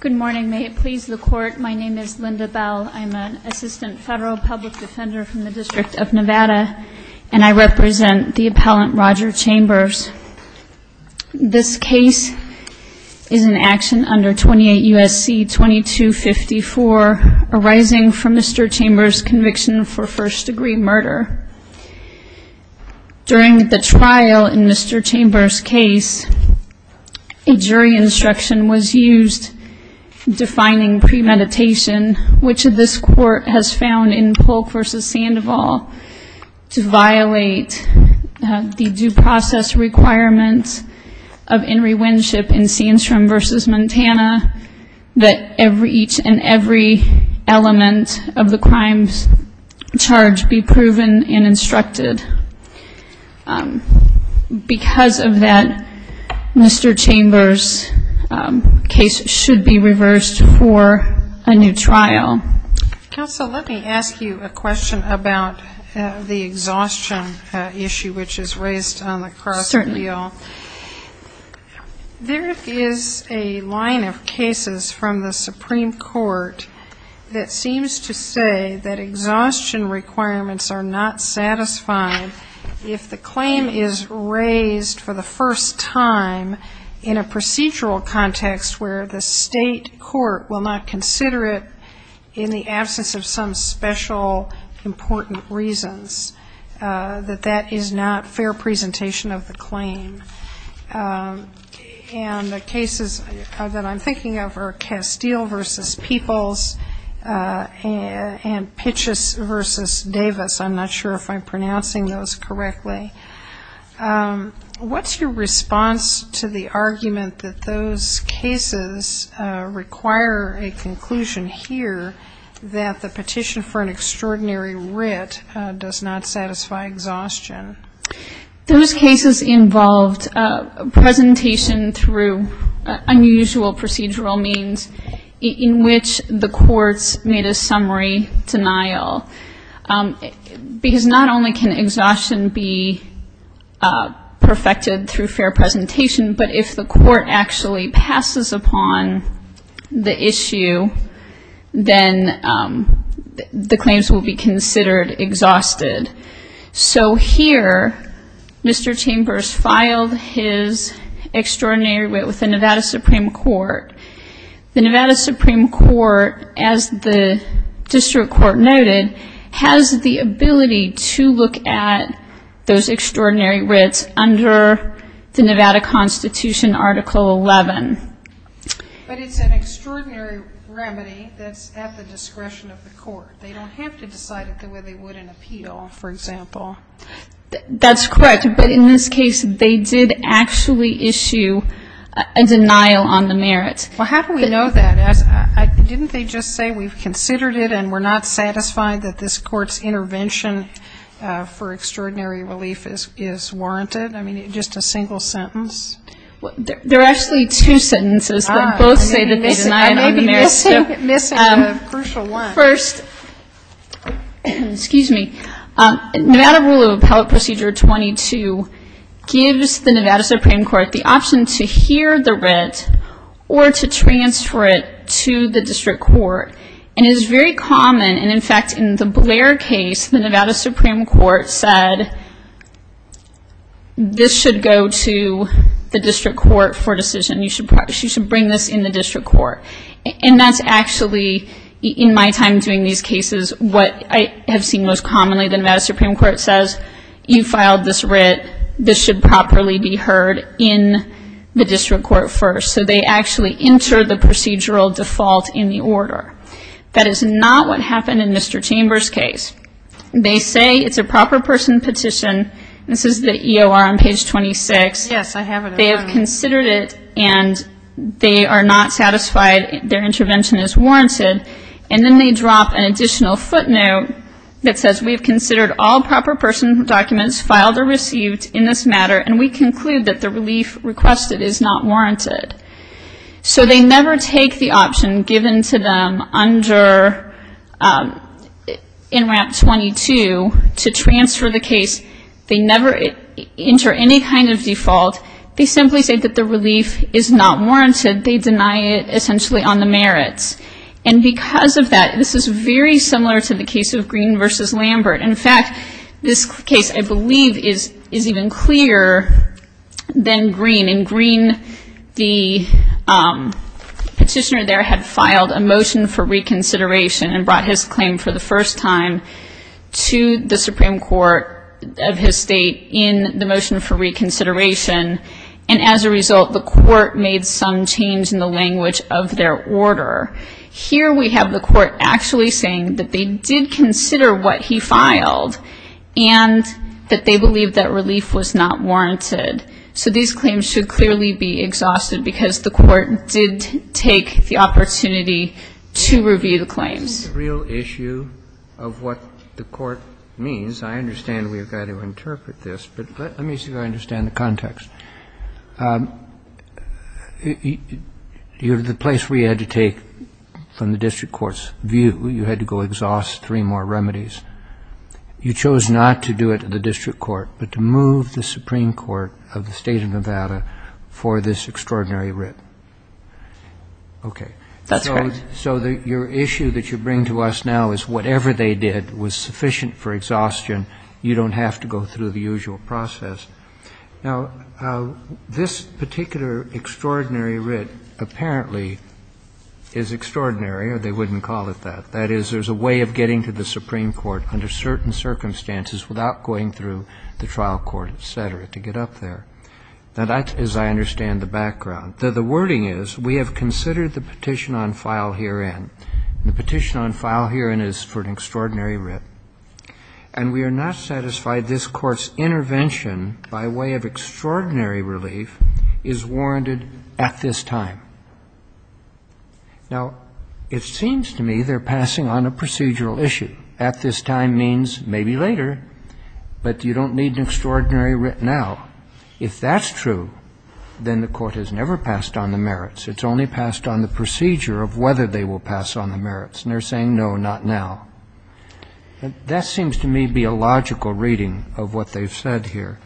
Good morning. May it please the Court, my name is Linda Bell. I'm an Assistant Federal Public Defender from the District of Nevada and I represent the Appellant Roger Chambers. This case is an action under 28 U.S.C. 2254 arising from Mr. Chambers' conviction for first degree murder. During the trial in Mr. Chambers' case, a jury instruction was used defining premeditation, which this Court has found in Polk v. Sandoval to violate the due process requirements of Henry Winship in Sandstrom v. Montana that each and every element of the crime's charge be proven and instructed. Because of that, Mr. Chambers' case should be reversed for a new trial. Counsel, let me ask you a question about the exhaustion issue which is raised on the cross. Certainly. There is a line of cases from the Supreme Court that seems to say that exhaustion requirements are not satisfied if the claim is raised for the first time in a procedural context where the state court will not consider it in the absence of some special important reasons, that that is not fair presentation of the peoples and Pitchess v. Davis. I'm not sure if I'm pronouncing those correctly. What's your response to the argument that those cases require a conclusion here that the petition for an extraordinary writ does not satisfy exhaustion? Those cases involved presentation through unusual procedural means in which the courts made a summary denial. Because not only can exhaustion be perfected through fair presentation, but if the court actually passes upon the issue, then the claims will be considered exhausted. So here, Mr. Chambers filed his extraordinary writ with the Nevada Supreme Court. The Nevada Supreme Court, as the district court noted, has the ability to look at those extraordinary writs under the Nevada Constitution, Article 11. But it's an extraordinary remedy that's at the discretion of the court. They don't have to decide it the way they would in appeal, for example. That's correct. But in this case, they did actually issue a denial on the merit. Well, how do we know that? Didn't they just say, we've considered it and we're not satisfied that this court's intervention for extraordinary relief is warranted? I mean, just a single sentence? There are actually two sentences that both say that they denied on the merit. I may be missing a crucial one. First, Nevada Rule of Appellate Procedure 22 gives the Nevada Supreme Court the option to hear the writ or to transfer it to the district court. It is very common, and in fact, in the Blair case, the Nevada Supreme Court said, this should go to the district court for decision. You should bring this in the district court. And that's actually, in my time doing these cases, what I have seen most commonly, the Nevada Supreme Court says, you filed this writ. This should properly be heard in the district court first. So they actually enter the procedural default in the order. That is not what happened in Mr. Chambers' case. They say it's a proper person petition. This is the EOR on page 26. Yes, I have it. But they have considered it, and they are not satisfied. Their intervention is warranted. And then they drop an additional footnote that says, we have considered all proper person documents filed or received in this matter, and we conclude that the relief requested is not warranted. So they never take the option given to them under NRAP 22 to transfer the relief. They simply say that the relief is not warranted. They deny it, essentially, on the merits. And because of that, this is very similar to the case of Green v. Lambert. In fact, this case, I believe, is even clearer than Green. And Green, the petitioner there had filed a motion for reconsideration and brought his claim for the first time to the And as a result, the Court made some change in the language of their order. Here we have the Court actually saying that they did consider what he filed and that they believed that relief was not warranted. So these claims should clearly be exhausted, because the Court did take the opportunity to review the claims. This is a real issue of what the Court means. I understand we have got to interpret The place we had to take from the district court's view, you had to go exhaust three more remedies. You chose not to do it at the district court, but to move the Supreme Court of the State of Nevada for this extraordinary writ. That's correct. So your issue that you bring to us now is whatever they did was sufficient for exhaustion. You don't have to go through the usual process. Now, this particular extraordinary writ apparently is extraordinary, or they wouldn't call it that. That is, there's a way of getting to the Supreme Court under certain circumstances without going through the trial court, et cetera, to get up there. Now, that is, I understand, the background. The wording is, we have considered the petition on file herein. The petition on file herein is for an extraordinary writ, and we are not satisfied this Court's intervention by way of extraordinary relief is warranted at this time. Now, it seems to me they're passing on a procedural issue. At this time means maybe later, but you don't need an extraordinary writ now. If that's true, then the Court has never passed on the merits. It's only passed on the procedure of whether they will pass on the merits, and they're no, not now. That seems to me to be a logical reading of what they've said here.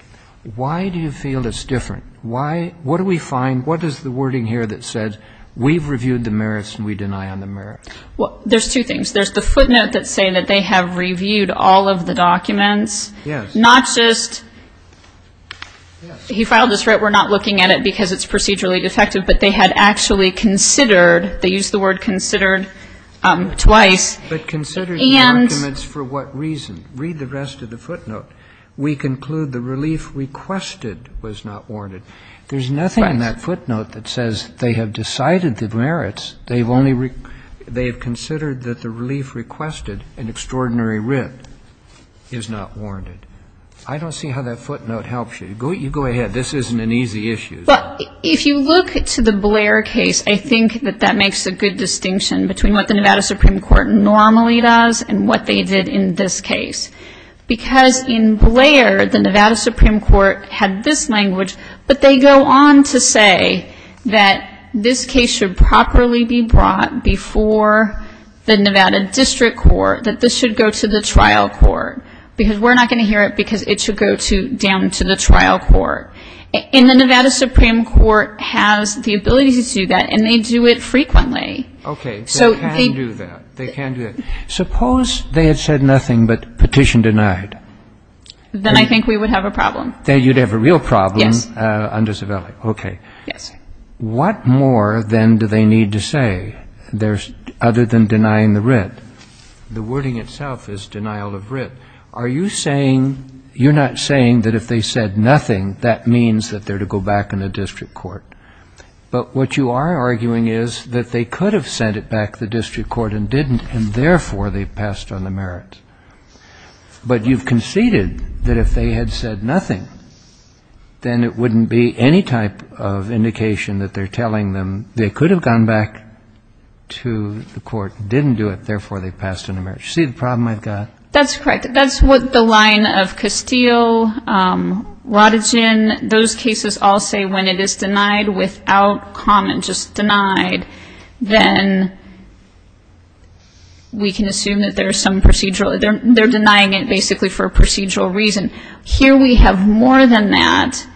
Why do you feel it's different? Why? What do we find? What is the wording here that says we've reviewed the merits and we deny on the merits? Well, there's two things. There's the footnote that's saying that they have reviewed all of the documents, not just he filed this writ, we're not looking at it because it's procedurally defective, but they had actually considered, they used the word considered twice, and the merits were not warranted. But considered the documents for what reason? Read the rest of the footnote. We conclude the relief requested was not warranted. There's nothing in that footnote that says they have decided the merits. They've only, they have considered that the relief requested, an extraordinary writ, is not warranted. I don't see how that footnote helps you. You go ahead. This isn't an easy issue. Well, if you look to the Blair case, I think that that makes a good distinction between what the Nevada Supreme Court normally does and what they did in this case. Because in Blair, the Nevada Supreme Court had this language, but they go on to say that this case should properly be brought before the Nevada District Court, that this should go to the trial court, because we're not going to hear it because it should go down to the trial court. The Supreme Court has the ability to do that, and they do it frequently. Okay. They can do that. They can do that. Suppose they had said nothing but petition denied. Then I think we would have a problem. Then you'd have a real problem under Savelli. Okay. What more, then, do they need to say, other than denying the writ? The wording itself is denial of writ. Are you saying, you're not saying that if they said nothing, that means that they're to go back in the district court? But what you are arguing is that they could have sent it back to the district court and didn't, and therefore they passed on the merit. But you've conceded that if they had said nothing, then it wouldn't be any type of indication that they're telling them they could have gone back to the court and didn't do it, therefore they passed on the merit. You see the problem I've got? That's correct. That's what the line of Castile, Rodigin, those cases all say when it is denied without comment, just denied, then we can assume that there's some procedural, they're denying it basically for a procedural reason. Here we have more than that,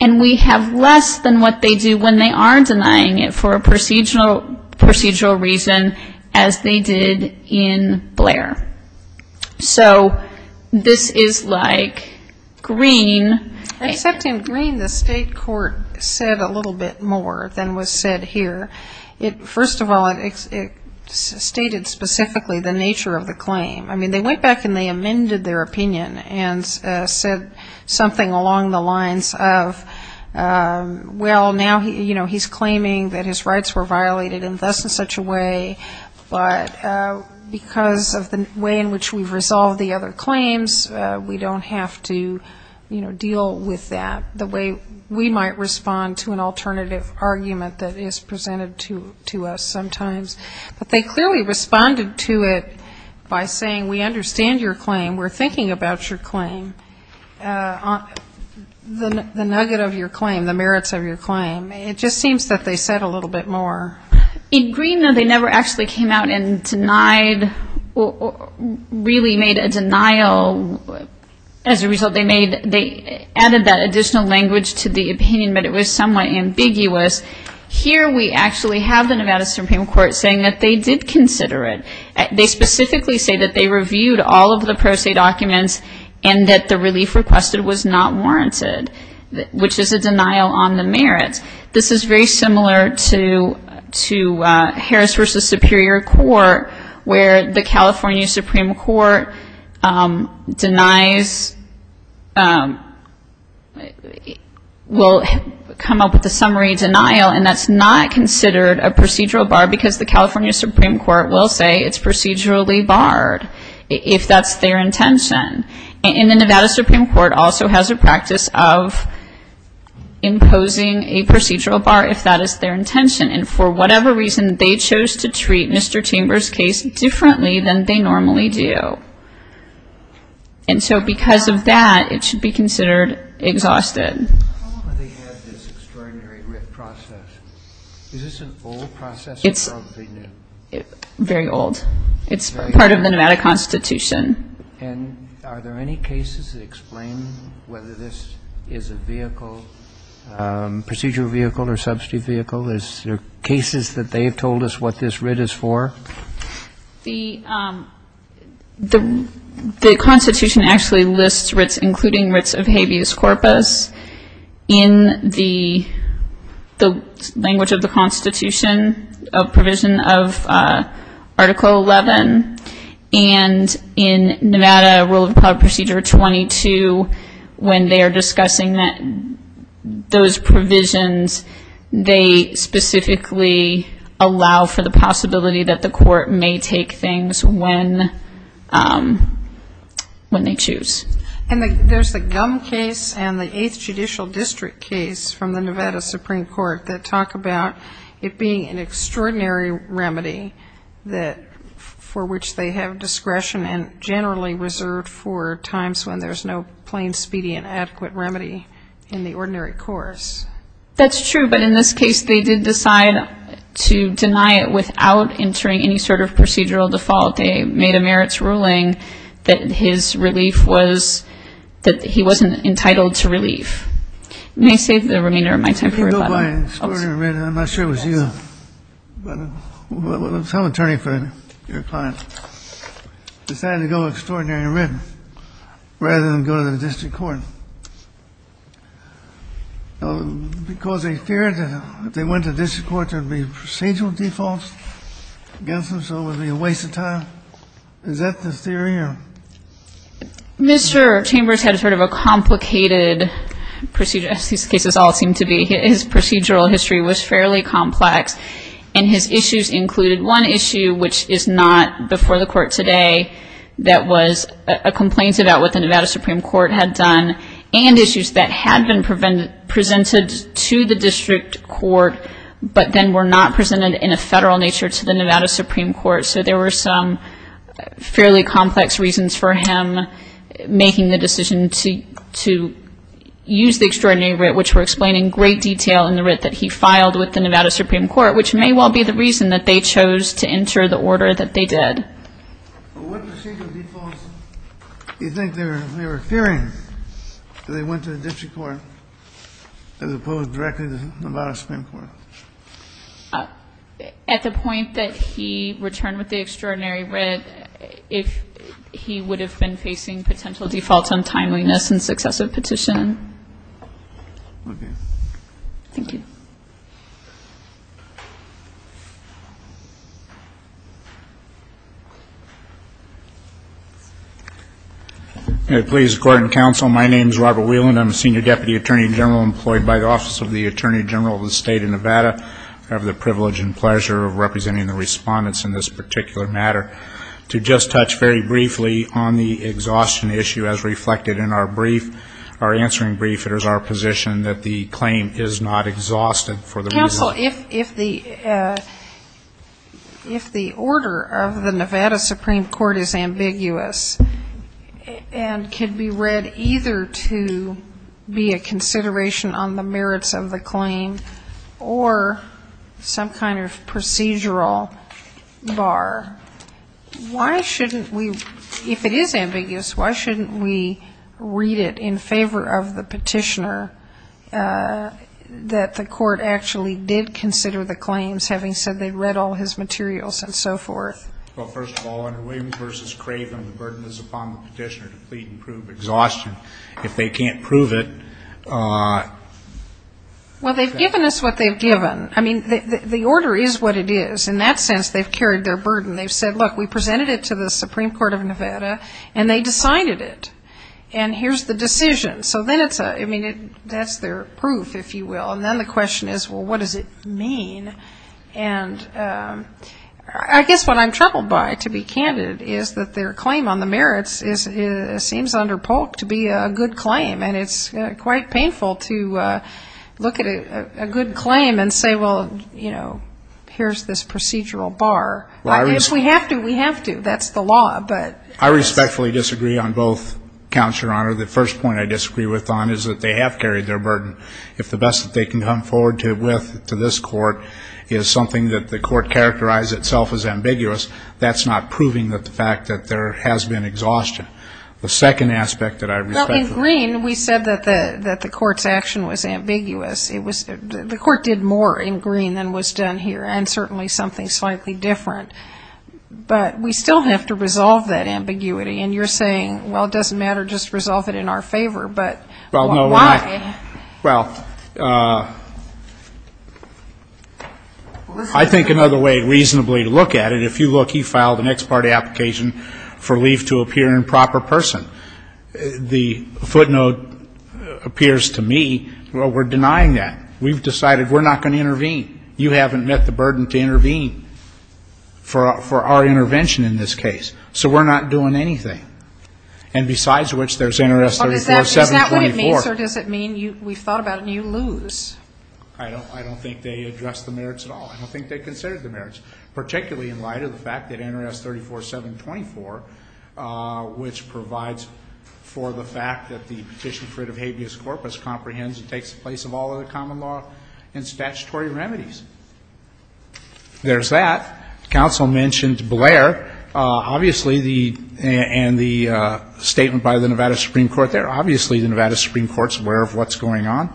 and we have less than what they do when they are denying it for a procedural reason, as they did in Blair. So this is like Green. Except in Green, the state court said a little bit more than was said here. First of all, it stated specifically the nature of the claim. I mean, they went back and they amended their opinion and said something along the lines of, well, now he's claiming that his rights were violated in thus and such a way, but because of the way in which we've resolved the other claims, we don't have to, you know, deal with that, the way we might respond to an alternative argument that is presented to us sometimes. But they clearly responded to it by saying, we understand your claim, we're thinking about your claim, the nugget of your claim, the merits of your claim. It just seems that they said a little bit more. In Green, though, they never actually came out and denied or really made a denial. As a result, they added that additional language to the opinion, but it was somewhat ambiguous. Here we actually have the Nevada Supreme Court saying that they did consider it. They specifically say that they reviewed all of the pro se documents and that the relief requested was not warranted, which is a denial on the merits. This is very similar to Harris v. Superior Court, where the California Supreme Court denies, will come up with a summary denial and that's not considered a procedural bar because the California Supreme Court will say it's procedurally barred if that's their intention. And the Nevada Supreme Court also has a practice of imposing a procedural bar if that is their intention. And for whatever reason, they chose to treat Mr. Chambers' case differently than they normally do. And so because of that, it should be considered exhausted. How long have they had this extraordinary writ process? Is this an old process or is it new? Very old. It's part of the Nevada Constitution. And are there any cases that explain whether this is a vehicle, procedural vehicle or substitute vehicle? Is there cases that they have told us what this writ is for? The Constitution actually lists writs, including writs of habeas corpus. In the language of the Constitution, a provision of Article 11. And in Nevada Rule of Appellate Procedure 22, when they are discussing those provisions, they specifically allow for the possibility that the court may take things when they choose. And there's the Gum case and the 8th Judicial District case from the Nevada Supreme Court that talk about it being an extraordinary remedy for which they have discretion and generally reserved for times when there's no plain, speedy and adequate remedy in the ordinary course. That's true. But in this case, they did decide to deny it without entering any sort of procedural default. They made a merits ruling that his relief was that he wasn't entitled to relief. May I say the remainder of my time for rebuttal? I'm not sure it was you, but some attorney friend, your client, decided to go with extraordinary remedy rather than go to the district court. Because they feared that if they went to the district court, there would be procedural defaults against them, so it would be a waste of time. Is that the theory? Yeah. Mr. Chambers had sort of a complicated procedure, as these cases all seem to be. His procedural history was fairly complex, and his issues included one issue, which is not before the court today, that was a complaint about what the Nevada Supreme Court had done, and issues that had been presented to the district court, but then were not presented in a federal nature to the Nevada Supreme Court. So there were some fairly complex reasons for him making the decision to use the extraordinary writ, which were explained in great detail in the writ that he filed with the Nevada Supreme Court, which may well be the reason that they chose to enter the order that they did. But what procedural defaults do you think they were fearing, that they went to the district court as opposed directly to the Nevada Supreme Court? At the point that he returned with the extraordinary writ, if he would have been facing potential defaults on timeliness and successive petitioning. Okay. Thank you. May it please the Court and Counsel, my name is Robert Whelan. I'm a Senior Deputy Attorney General employed by the Office of the Attorney General of the State of Nevada. I have the privilege and pleasure of representing the respondents in this particular matter. To just touch very briefly on the exhaustion issue as reflected in our brief, our answering brief, it is our position that the claim is not exhausted for the reason that Counsel, if the order of the Nevada Supreme Court is ambiguous, and can be read either to be a consideration on the merits of the claim or some kind of procedural bar, why shouldn't we, if it is ambiguous, why shouldn't we read it in favor of the petitioner that the court actually did consider the claims, having said they read all his materials and so forth? Well, first of all, under Williams v. Craven, the burden is upon the petitioner to plead and prove exhaustion. If they can't prove it, that's the burden. Well, they've given us what they've given. I mean, the order is what it is. In that sense, they've carried their burden. They've said, look, we presented it to the Supreme Court of Nevada, and they decided it. And here's the decision. So then it's a, I mean, that's their proof, if you will. And then the question is, well, what does it mean? And I guess what I'm troubled by, to be candid, is that their claim on the merits is, seems under Polk to be a good claim. And it's quite painful to look at a good claim and say, well, you know, here's this procedural bar. If we have to, we have to. That's the law, but. I respectfully disagree on both counts, Your Honor. The first point I disagree with Don is that they have carried their burden. If the best that they can come forward with to this court is something that the court characterized itself as ambiguous, that's not proving that the fact that there has been exhaustion. The second aspect that I respect. Well, in green, we said that the court's action was ambiguous. It was, the court did more in green than was done here, and certainly something slightly different. But we still have to resolve that ambiguity. And you're saying, well, it doesn't matter, just resolve it in our favor. But why? Well, I think another way reasonably to look at it, if you look, he filed an ex parte application for leave to appear in proper person. The footnote appears to me, well, we're denying that. We've decided we're not going to intervene. You haven't met the burden to intervene for our intervention in this case. So we're not doing anything. And besides which, there's Interest 34724. But does it mean, sir, does it mean we've thought about it and you lose? I don't think they addressed the merits at all. I don't think they considered the merits, particularly in light of the fact that Interest 34724, which provides for the fact that the Petition Fruit of Habeas Corpus comprehends and takes the place of all other common law and statutory remedies. There's that. Counsel mentioned Blair. Obviously, the, and the statement by the Nevada Supreme Court there, obviously, the Nevada Supreme Court's aware of what's going on.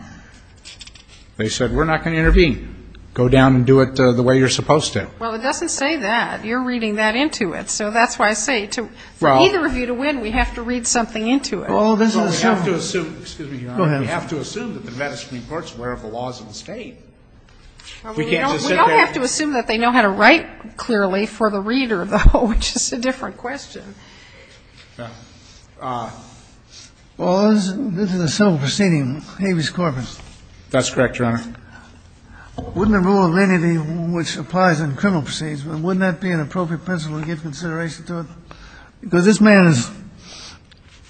They said, we're not going to intervene. Go down and do it the way you're supposed to. Well, it doesn't say that. You're reading that into it. So that's why I say to, for either of you to win, we have to read something into it. Well, this is a simple one. Well, we have to assume, excuse me, Your Honor, we have to assume that the Nevada Supreme Court's aware of the laws of the State. We can't just sit there and We don't have to assume that they know how to write clearly for the reader, though, which is a different question. Well, this is a simple proceeding of Habeas Corpus. That's correct, Your Honor. Wouldn't the rule of lenity, which applies in criminal proceedings, wouldn't that be an appropriate principle to give consideration to it? Because this man is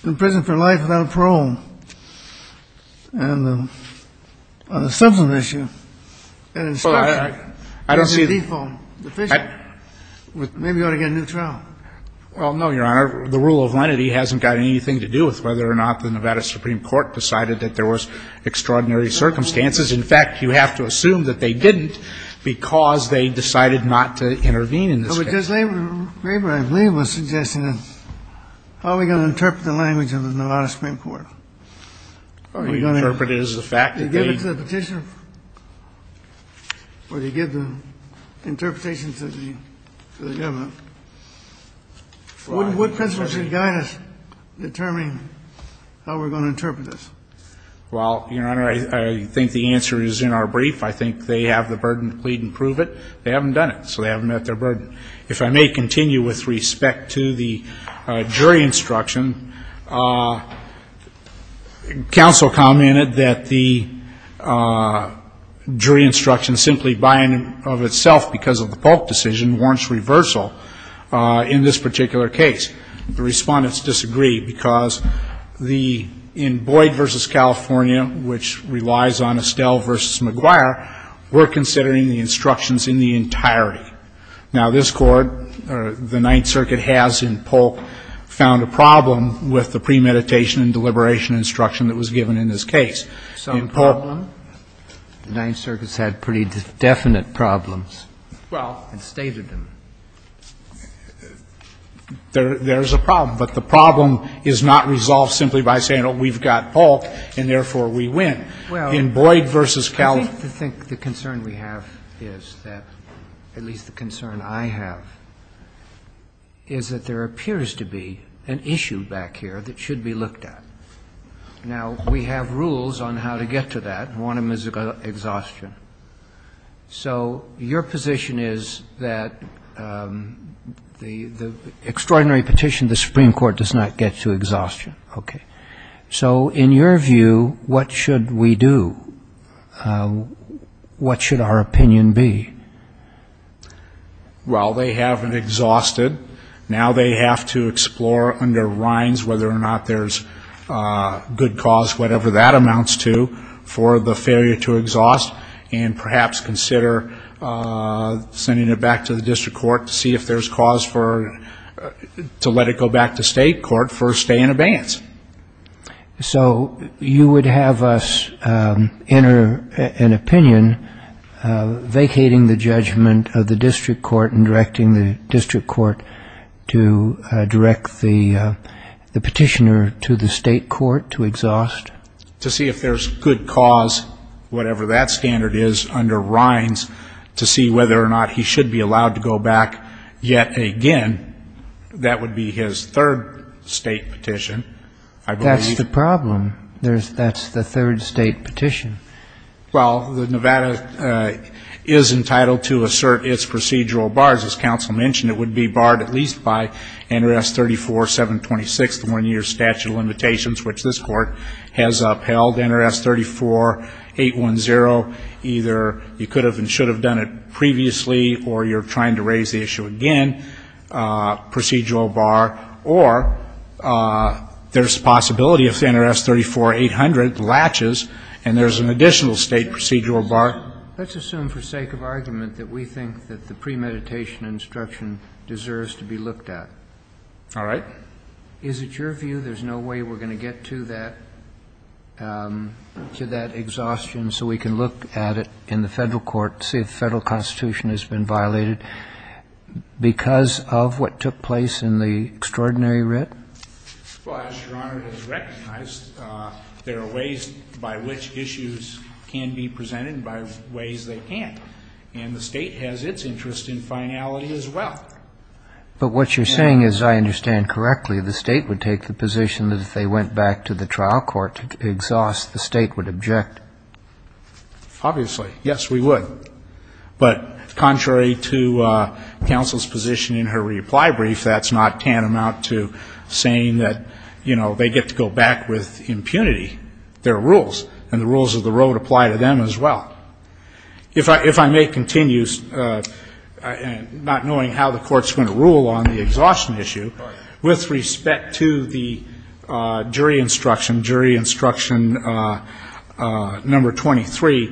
in prison for life without a parole. And on the substance issue, that in itself is a default deficit. Well, I don't see that. Maybe you ought to get a new trial. Well, no, Your Honor. The rule of lenity hasn't got anything to do with whether or not the Nevada Supreme Court decided that there was extraordinary circumstances. In fact, you have to assume that they didn't because they decided not to intervene in this case. Well, Judge Graber, I believe, was suggesting that how are we going to interpret the language of the Nevada Supreme Court? Are we going to interpret it as a fact that they Are you going to give it to the Petitioner? Or do you give the interpretation to the government? What principles should guide us determining how we're going to interpret this? Well, Your Honor, I think the answer is in our brief. I think they have the burden to plead and prove it. They haven't done it, so they haven't met their burden. If I may continue with respect to the jury instruction, counsel commented that the jury instruction simply by and of itself because of the Polk decision warrants reversal in this particular case. The respondents disagree because in Boyd v. California, which relies on Estelle v. McGuire, we're considering the instructions in the entirety. Now, this Court, or the Ninth Circuit has in Polk, found a problem with the premeditation and deliberation instruction that was given in this case. Some problem? The Ninth Circuit's had pretty definite problems and stated them. Well, there's a problem, but the problem is not resolved simply by saying, oh, we've got Polk, and therefore we win. In Boyd v. California I think the concern we have is that, at least the concern I have, is that there appears to be an issue back here that should be looked at. Now, we have rules on how to get to that. One of them is exhaustion. So your position is that the extraordinary petition to the Supreme Court does not get to exhaustion. Okay. So, in your view, what should we do? What should our opinion be? Well, they haven't exhausted. Now they have to explore under Rhines whether or not there's good cause, whatever that amounts to, for the failure to exhaust, and perhaps consider sending it back to the District Court to see if there's cause to let it go back to State Court for a stay in abeyance. So you would have us enter an opinion vacating the judgment of the District Court and directing the District Court to direct the petitioner to the State Court to exhaust? To see if there's good cause, whatever that standard is, under Rhines, to see whether or not he should be allowed to go back yet again. That would be his third State petition. That's the problem. That's the third State petition. Well, Nevada is entitled to assert its procedural bars. As counsel mentioned, it would be barred at least by NRS 34-726, the one-year statute of limitations, which this Court has upheld. NRS 34-810, either you could have and should have done it previously or you're trying to raise the issue again. Procedural bar. Or there's a possibility if NRS 34-800 latches and there's an additional State procedural bar. Let's assume for sake of argument that we think that the premeditation instruction deserves to be looked at. All right. Is it your view there's no way we're going to get to that, to that exhaustion so we can look at it in the Federal Court, see if the Federal Constitution has been violated because of what took place in the extraordinary writ? Well, as Your Honor has recognized, there are ways by which issues can be presented and by ways they can't. And the State has its interest in finality as well. But what you're saying is, I understand correctly, the State would take the position that if they went back to the trial court to exhaust, the State would object. Obviously. Yes, we would. But contrary to counsel's position in her reply brief, that's not tantamount to saying that, you know, they get to go back with impunity. There are rules. And the rules of the road apply to them as well. If I may continue, not knowing how the Court's going to rule on the exhaustion issue, with respect to the jury instruction, jury instruction number 23,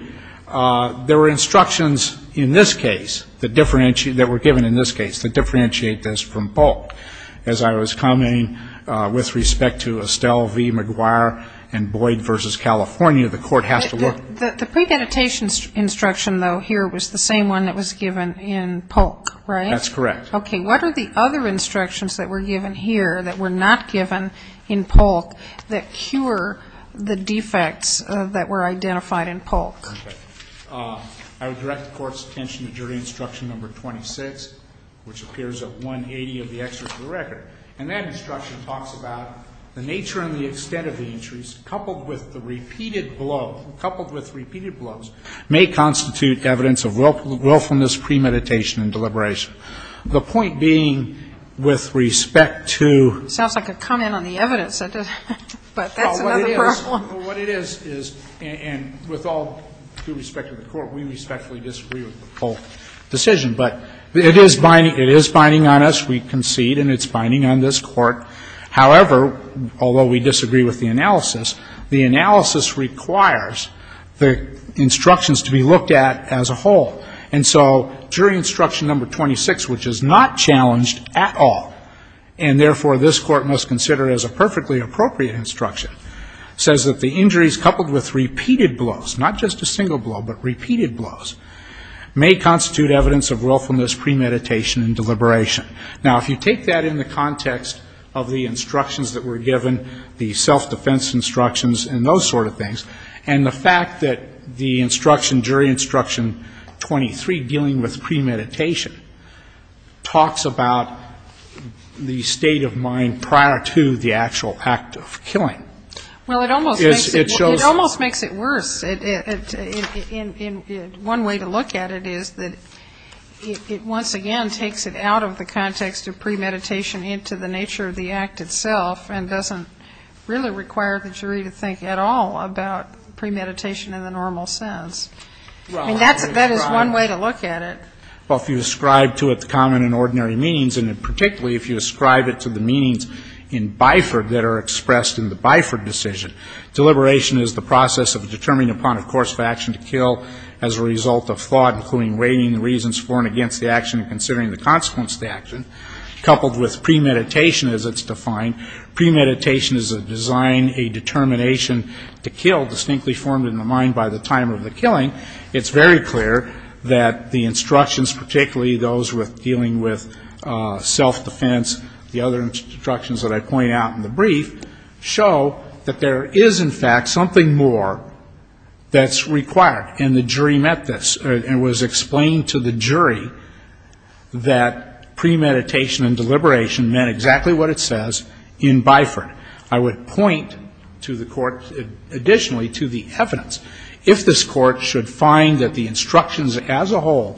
there were instructions in this case that were given in this case that differentiate this from Polk. As I was commenting with respect to Estelle v. McGuire and Boyd v. California, the Court has to look. The premeditation instruction, though, here was the same one that was given in Polk, right? That's correct. Okay. What are the other instructions that were given here that were not given in Polk that cure the defects that were identified in Polk? I would direct the Court's attention to jury instruction number 26, which appears at 180 of the excerpt of the record. And that instruction talks about the nature and the extent of the injuries coupled with the repeated blow, coupled with repeated blows, may constitute evidence of willfulness premeditation and deliberation. The point being, with respect to ---- It sounds like a comment on the evidence. But that's another problem. What it is, is, and with all due respect to the Court, we respectfully disagree with the Polk decision. But it is binding on us. We concede. And it's binding on this Court. However, although we disagree with the analysis, the analysis requires the instructions to be looked at as a whole. And so jury instruction number 26, which is not challenged at all, and therefore this Court must consider as a perfectly appropriate instruction, says that the injuries coupled with repeated blows, not just a single blow, but repeated blows, may constitute evidence of willfulness premeditation and deliberation. Now, if you take that in the context of the instructions that were given, the self-defense instructions and those sort of things, and the fact that the instruction, jury instruction 23, dealing with premeditation, talks about the state of mind prior to the actual act of killing. Well, it almost makes it worse. One way to look at it is that it once again takes it out of the context of premeditation into the nature of the act itself and doesn't really require the jury to think at all about premeditation in the normal sense. I mean, that is one way to look at it. Well, if you ascribe to it the common and ordinary means, and particularly if you ascribe it to the meanings in Biford that are expressed in the Biford decision, deliberation is the process of determining upon a course of action to kill as a result of thought, including rating the reasons for and against the action and considering the consequence of the action, coupled with premeditation as it's defined. Premeditation is a design, a determination to kill distinctly formed in the mind by the time of the killing. It's very clear that the instructions, particularly those with dealing with self-defense, the other instructions that I point out in the brief, show that there is, in fact, something more that's required. And the jury met this and it was explained to the jury that premeditation and deliberation meant exactly what it says in Biford. I would point to the court additionally to the evidence. If this court should find that the instructions as a whole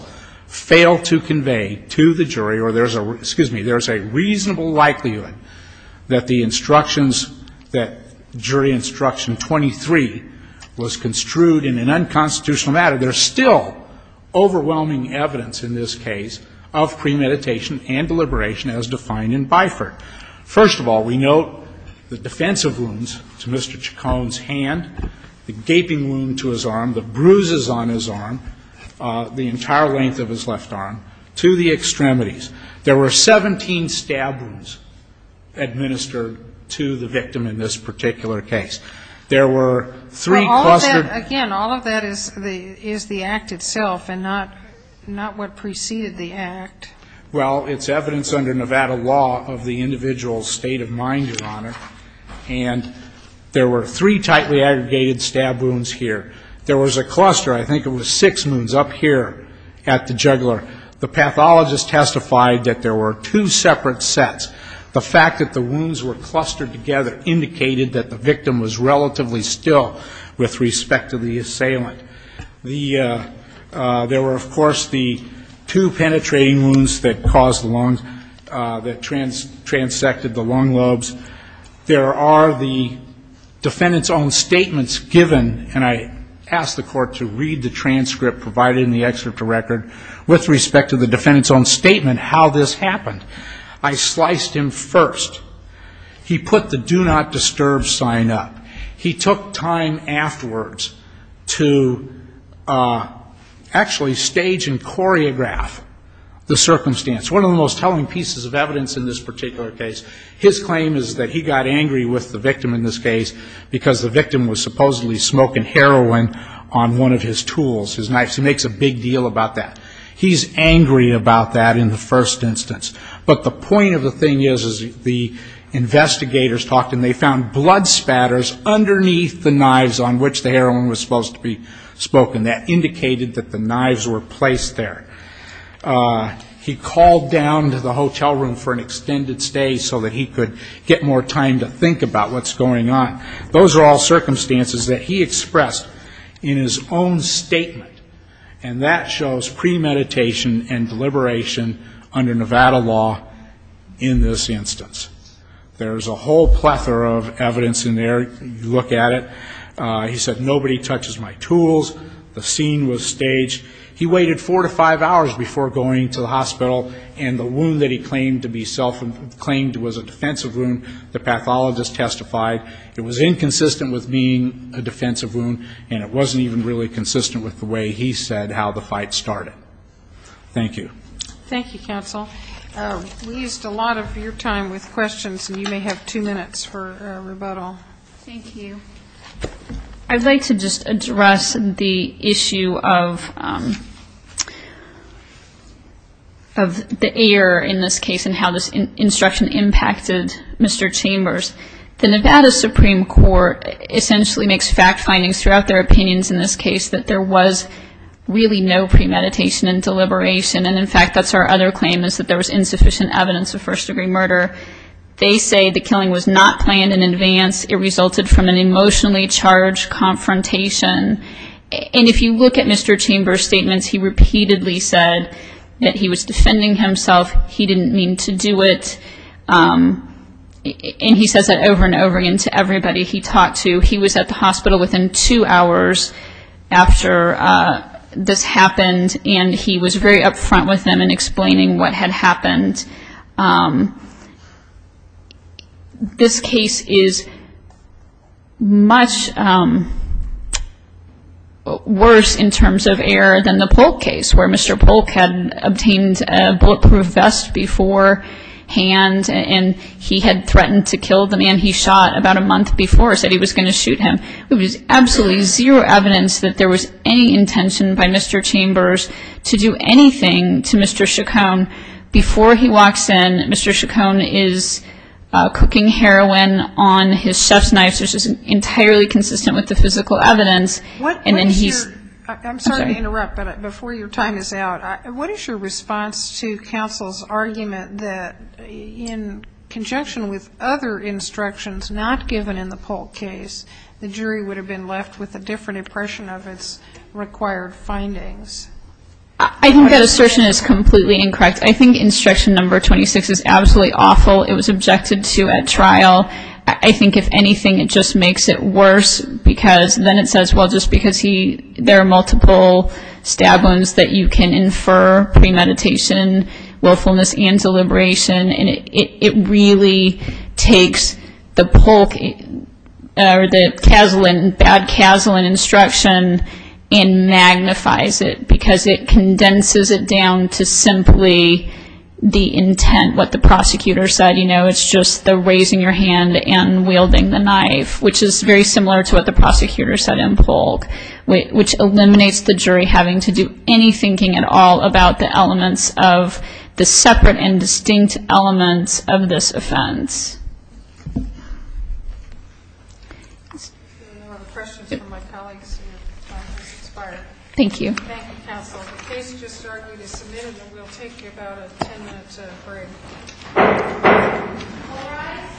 fail to convey to the jury or there's a, excuse me, there's a reasonable likelihood that the instructions, that jury instruction 23 was construed in an unconstitutional matter, there's still overwhelming evidence in this case of premeditation and deliberation as defined in Biford. First of all, we note the defensive wounds to Mr. Chacon's hand, the gaping wound to his arm, the bruises on his arm, the entire length of his left arm, to the extremities. There were 17 stab wounds administered to the victim in this particular case. There were three clustered. Again, all of that is the act itself and not what preceded the act. Well, it's evidence under Nevada law of the individual's state of mind, Your Honor. And there were three tightly aggregated stab wounds here. There was a cluster, I think it was six wounds up here at the jugular. The pathologist testified that there were two separate sets. The fact that the wounds were clustered together indicated that the victim was relatively still with respect to the assailant. There were, of course, the two penetrating wounds that caused the lungs, that transected the lung lobes. There are the defendant's own statements given, and I asked the court to read the transcript provided in the excerpt to record with respect to the defendant's own statement how this happened. I sliced him first. He put the Do Not Disturb sign up. He took time afterwards to actually stage and choreograph the circumstance. One of the most telling pieces of evidence in this particular case, his claim is that he got angry with the victim in this case because the victim was supposedly smoking heroin on one of his tools, his knives. He makes a big deal about that. He's angry about that in the first instance. But the point of the thing is, is the investigators talked and they found blood spatters underneath the knives on which the heroin was supposed to be spoken. That indicated that the knives were placed there. He called down to the hotel room for an extended stay so that he could get more time to think about what's going on. Those are all circumstances that he expressed in his own statement, and that shows premeditation and deliberation under Nevada law in this instance. There's a whole plethora of evidence in there. Look at it. He said, nobody touches my tools. The scene was staged. He waited four to five hours before going to the hospital, and the wound that he claimed was a defensive wound, the pathologist testified it was a defensive wound, and it wasn't even really consistent with the way he said how the fight started. Thank you. Thank you, counsel. We used a lot of your time with questions, and you may have two minutes for rebuttal. Thank you. I'd like to just address the issue of the error in this case and how this instruction impacted Mr. Chambers. The Nevada Supreme Court essentially makes fact findings throughout their opinions in this case that there was really no premeditation and deliberation, and in fact, that's our other claim is that there was insufficient evidence of first-degree murder. They say the killing was not planned in advance. It resulted from an emotionally charged confrontation, and if you look at Mr. Chambers' statements, he repeatedly said that he was defending himself. He didn't mean to do it. And he says that over and over again to everybody he talked to. He was at the hospital within two hours after this happened, and he was very upfront with them in explaining what had happened. This case is much worse in terms of error than the Polk case, where Mr. Chambers had a gun and he had threatened to kill the man he shot about a month before, said he was going to shoot him. There was absolutely zero evidence that there was any intention by Mr. Chambers to do anything to Mr. Chacon before he walks in. Mr. Chacon is cooking heroin on his chef's knife, which is entirely consistent with the physical evidence. I'm sorry to interrupt, but before your time is out, what is your response to counsel's argument that in conjunction with other instructions not given in the Polk case, the jury would have been left with a different impression of its required findings? I think that assertion is completely incorrect. I think instruction number 26 is absolutely awful. It was objected to at trial. I think if anything, it just makes it worse because then it says, well, just because there are multiple stab wounds that you can infer premeditation, willfulness, and deliberation, and it really takes the Polk or the bad Kaslan instruction and magnifies it because it condenses it down to simply the intent, what the prosecutor said. It's just the raising your hand and wielding the knife, which is very similar to what the prosecutor said in Polk, which eliminates the jury having to do any thinking at all about the elements of the separate and distinct elements of this offense. If there are no other questions from my colleagues, your time has expired. Thank you. Thank you, counsel. The case just argued is submitted, and we'll take about a 10-minute break.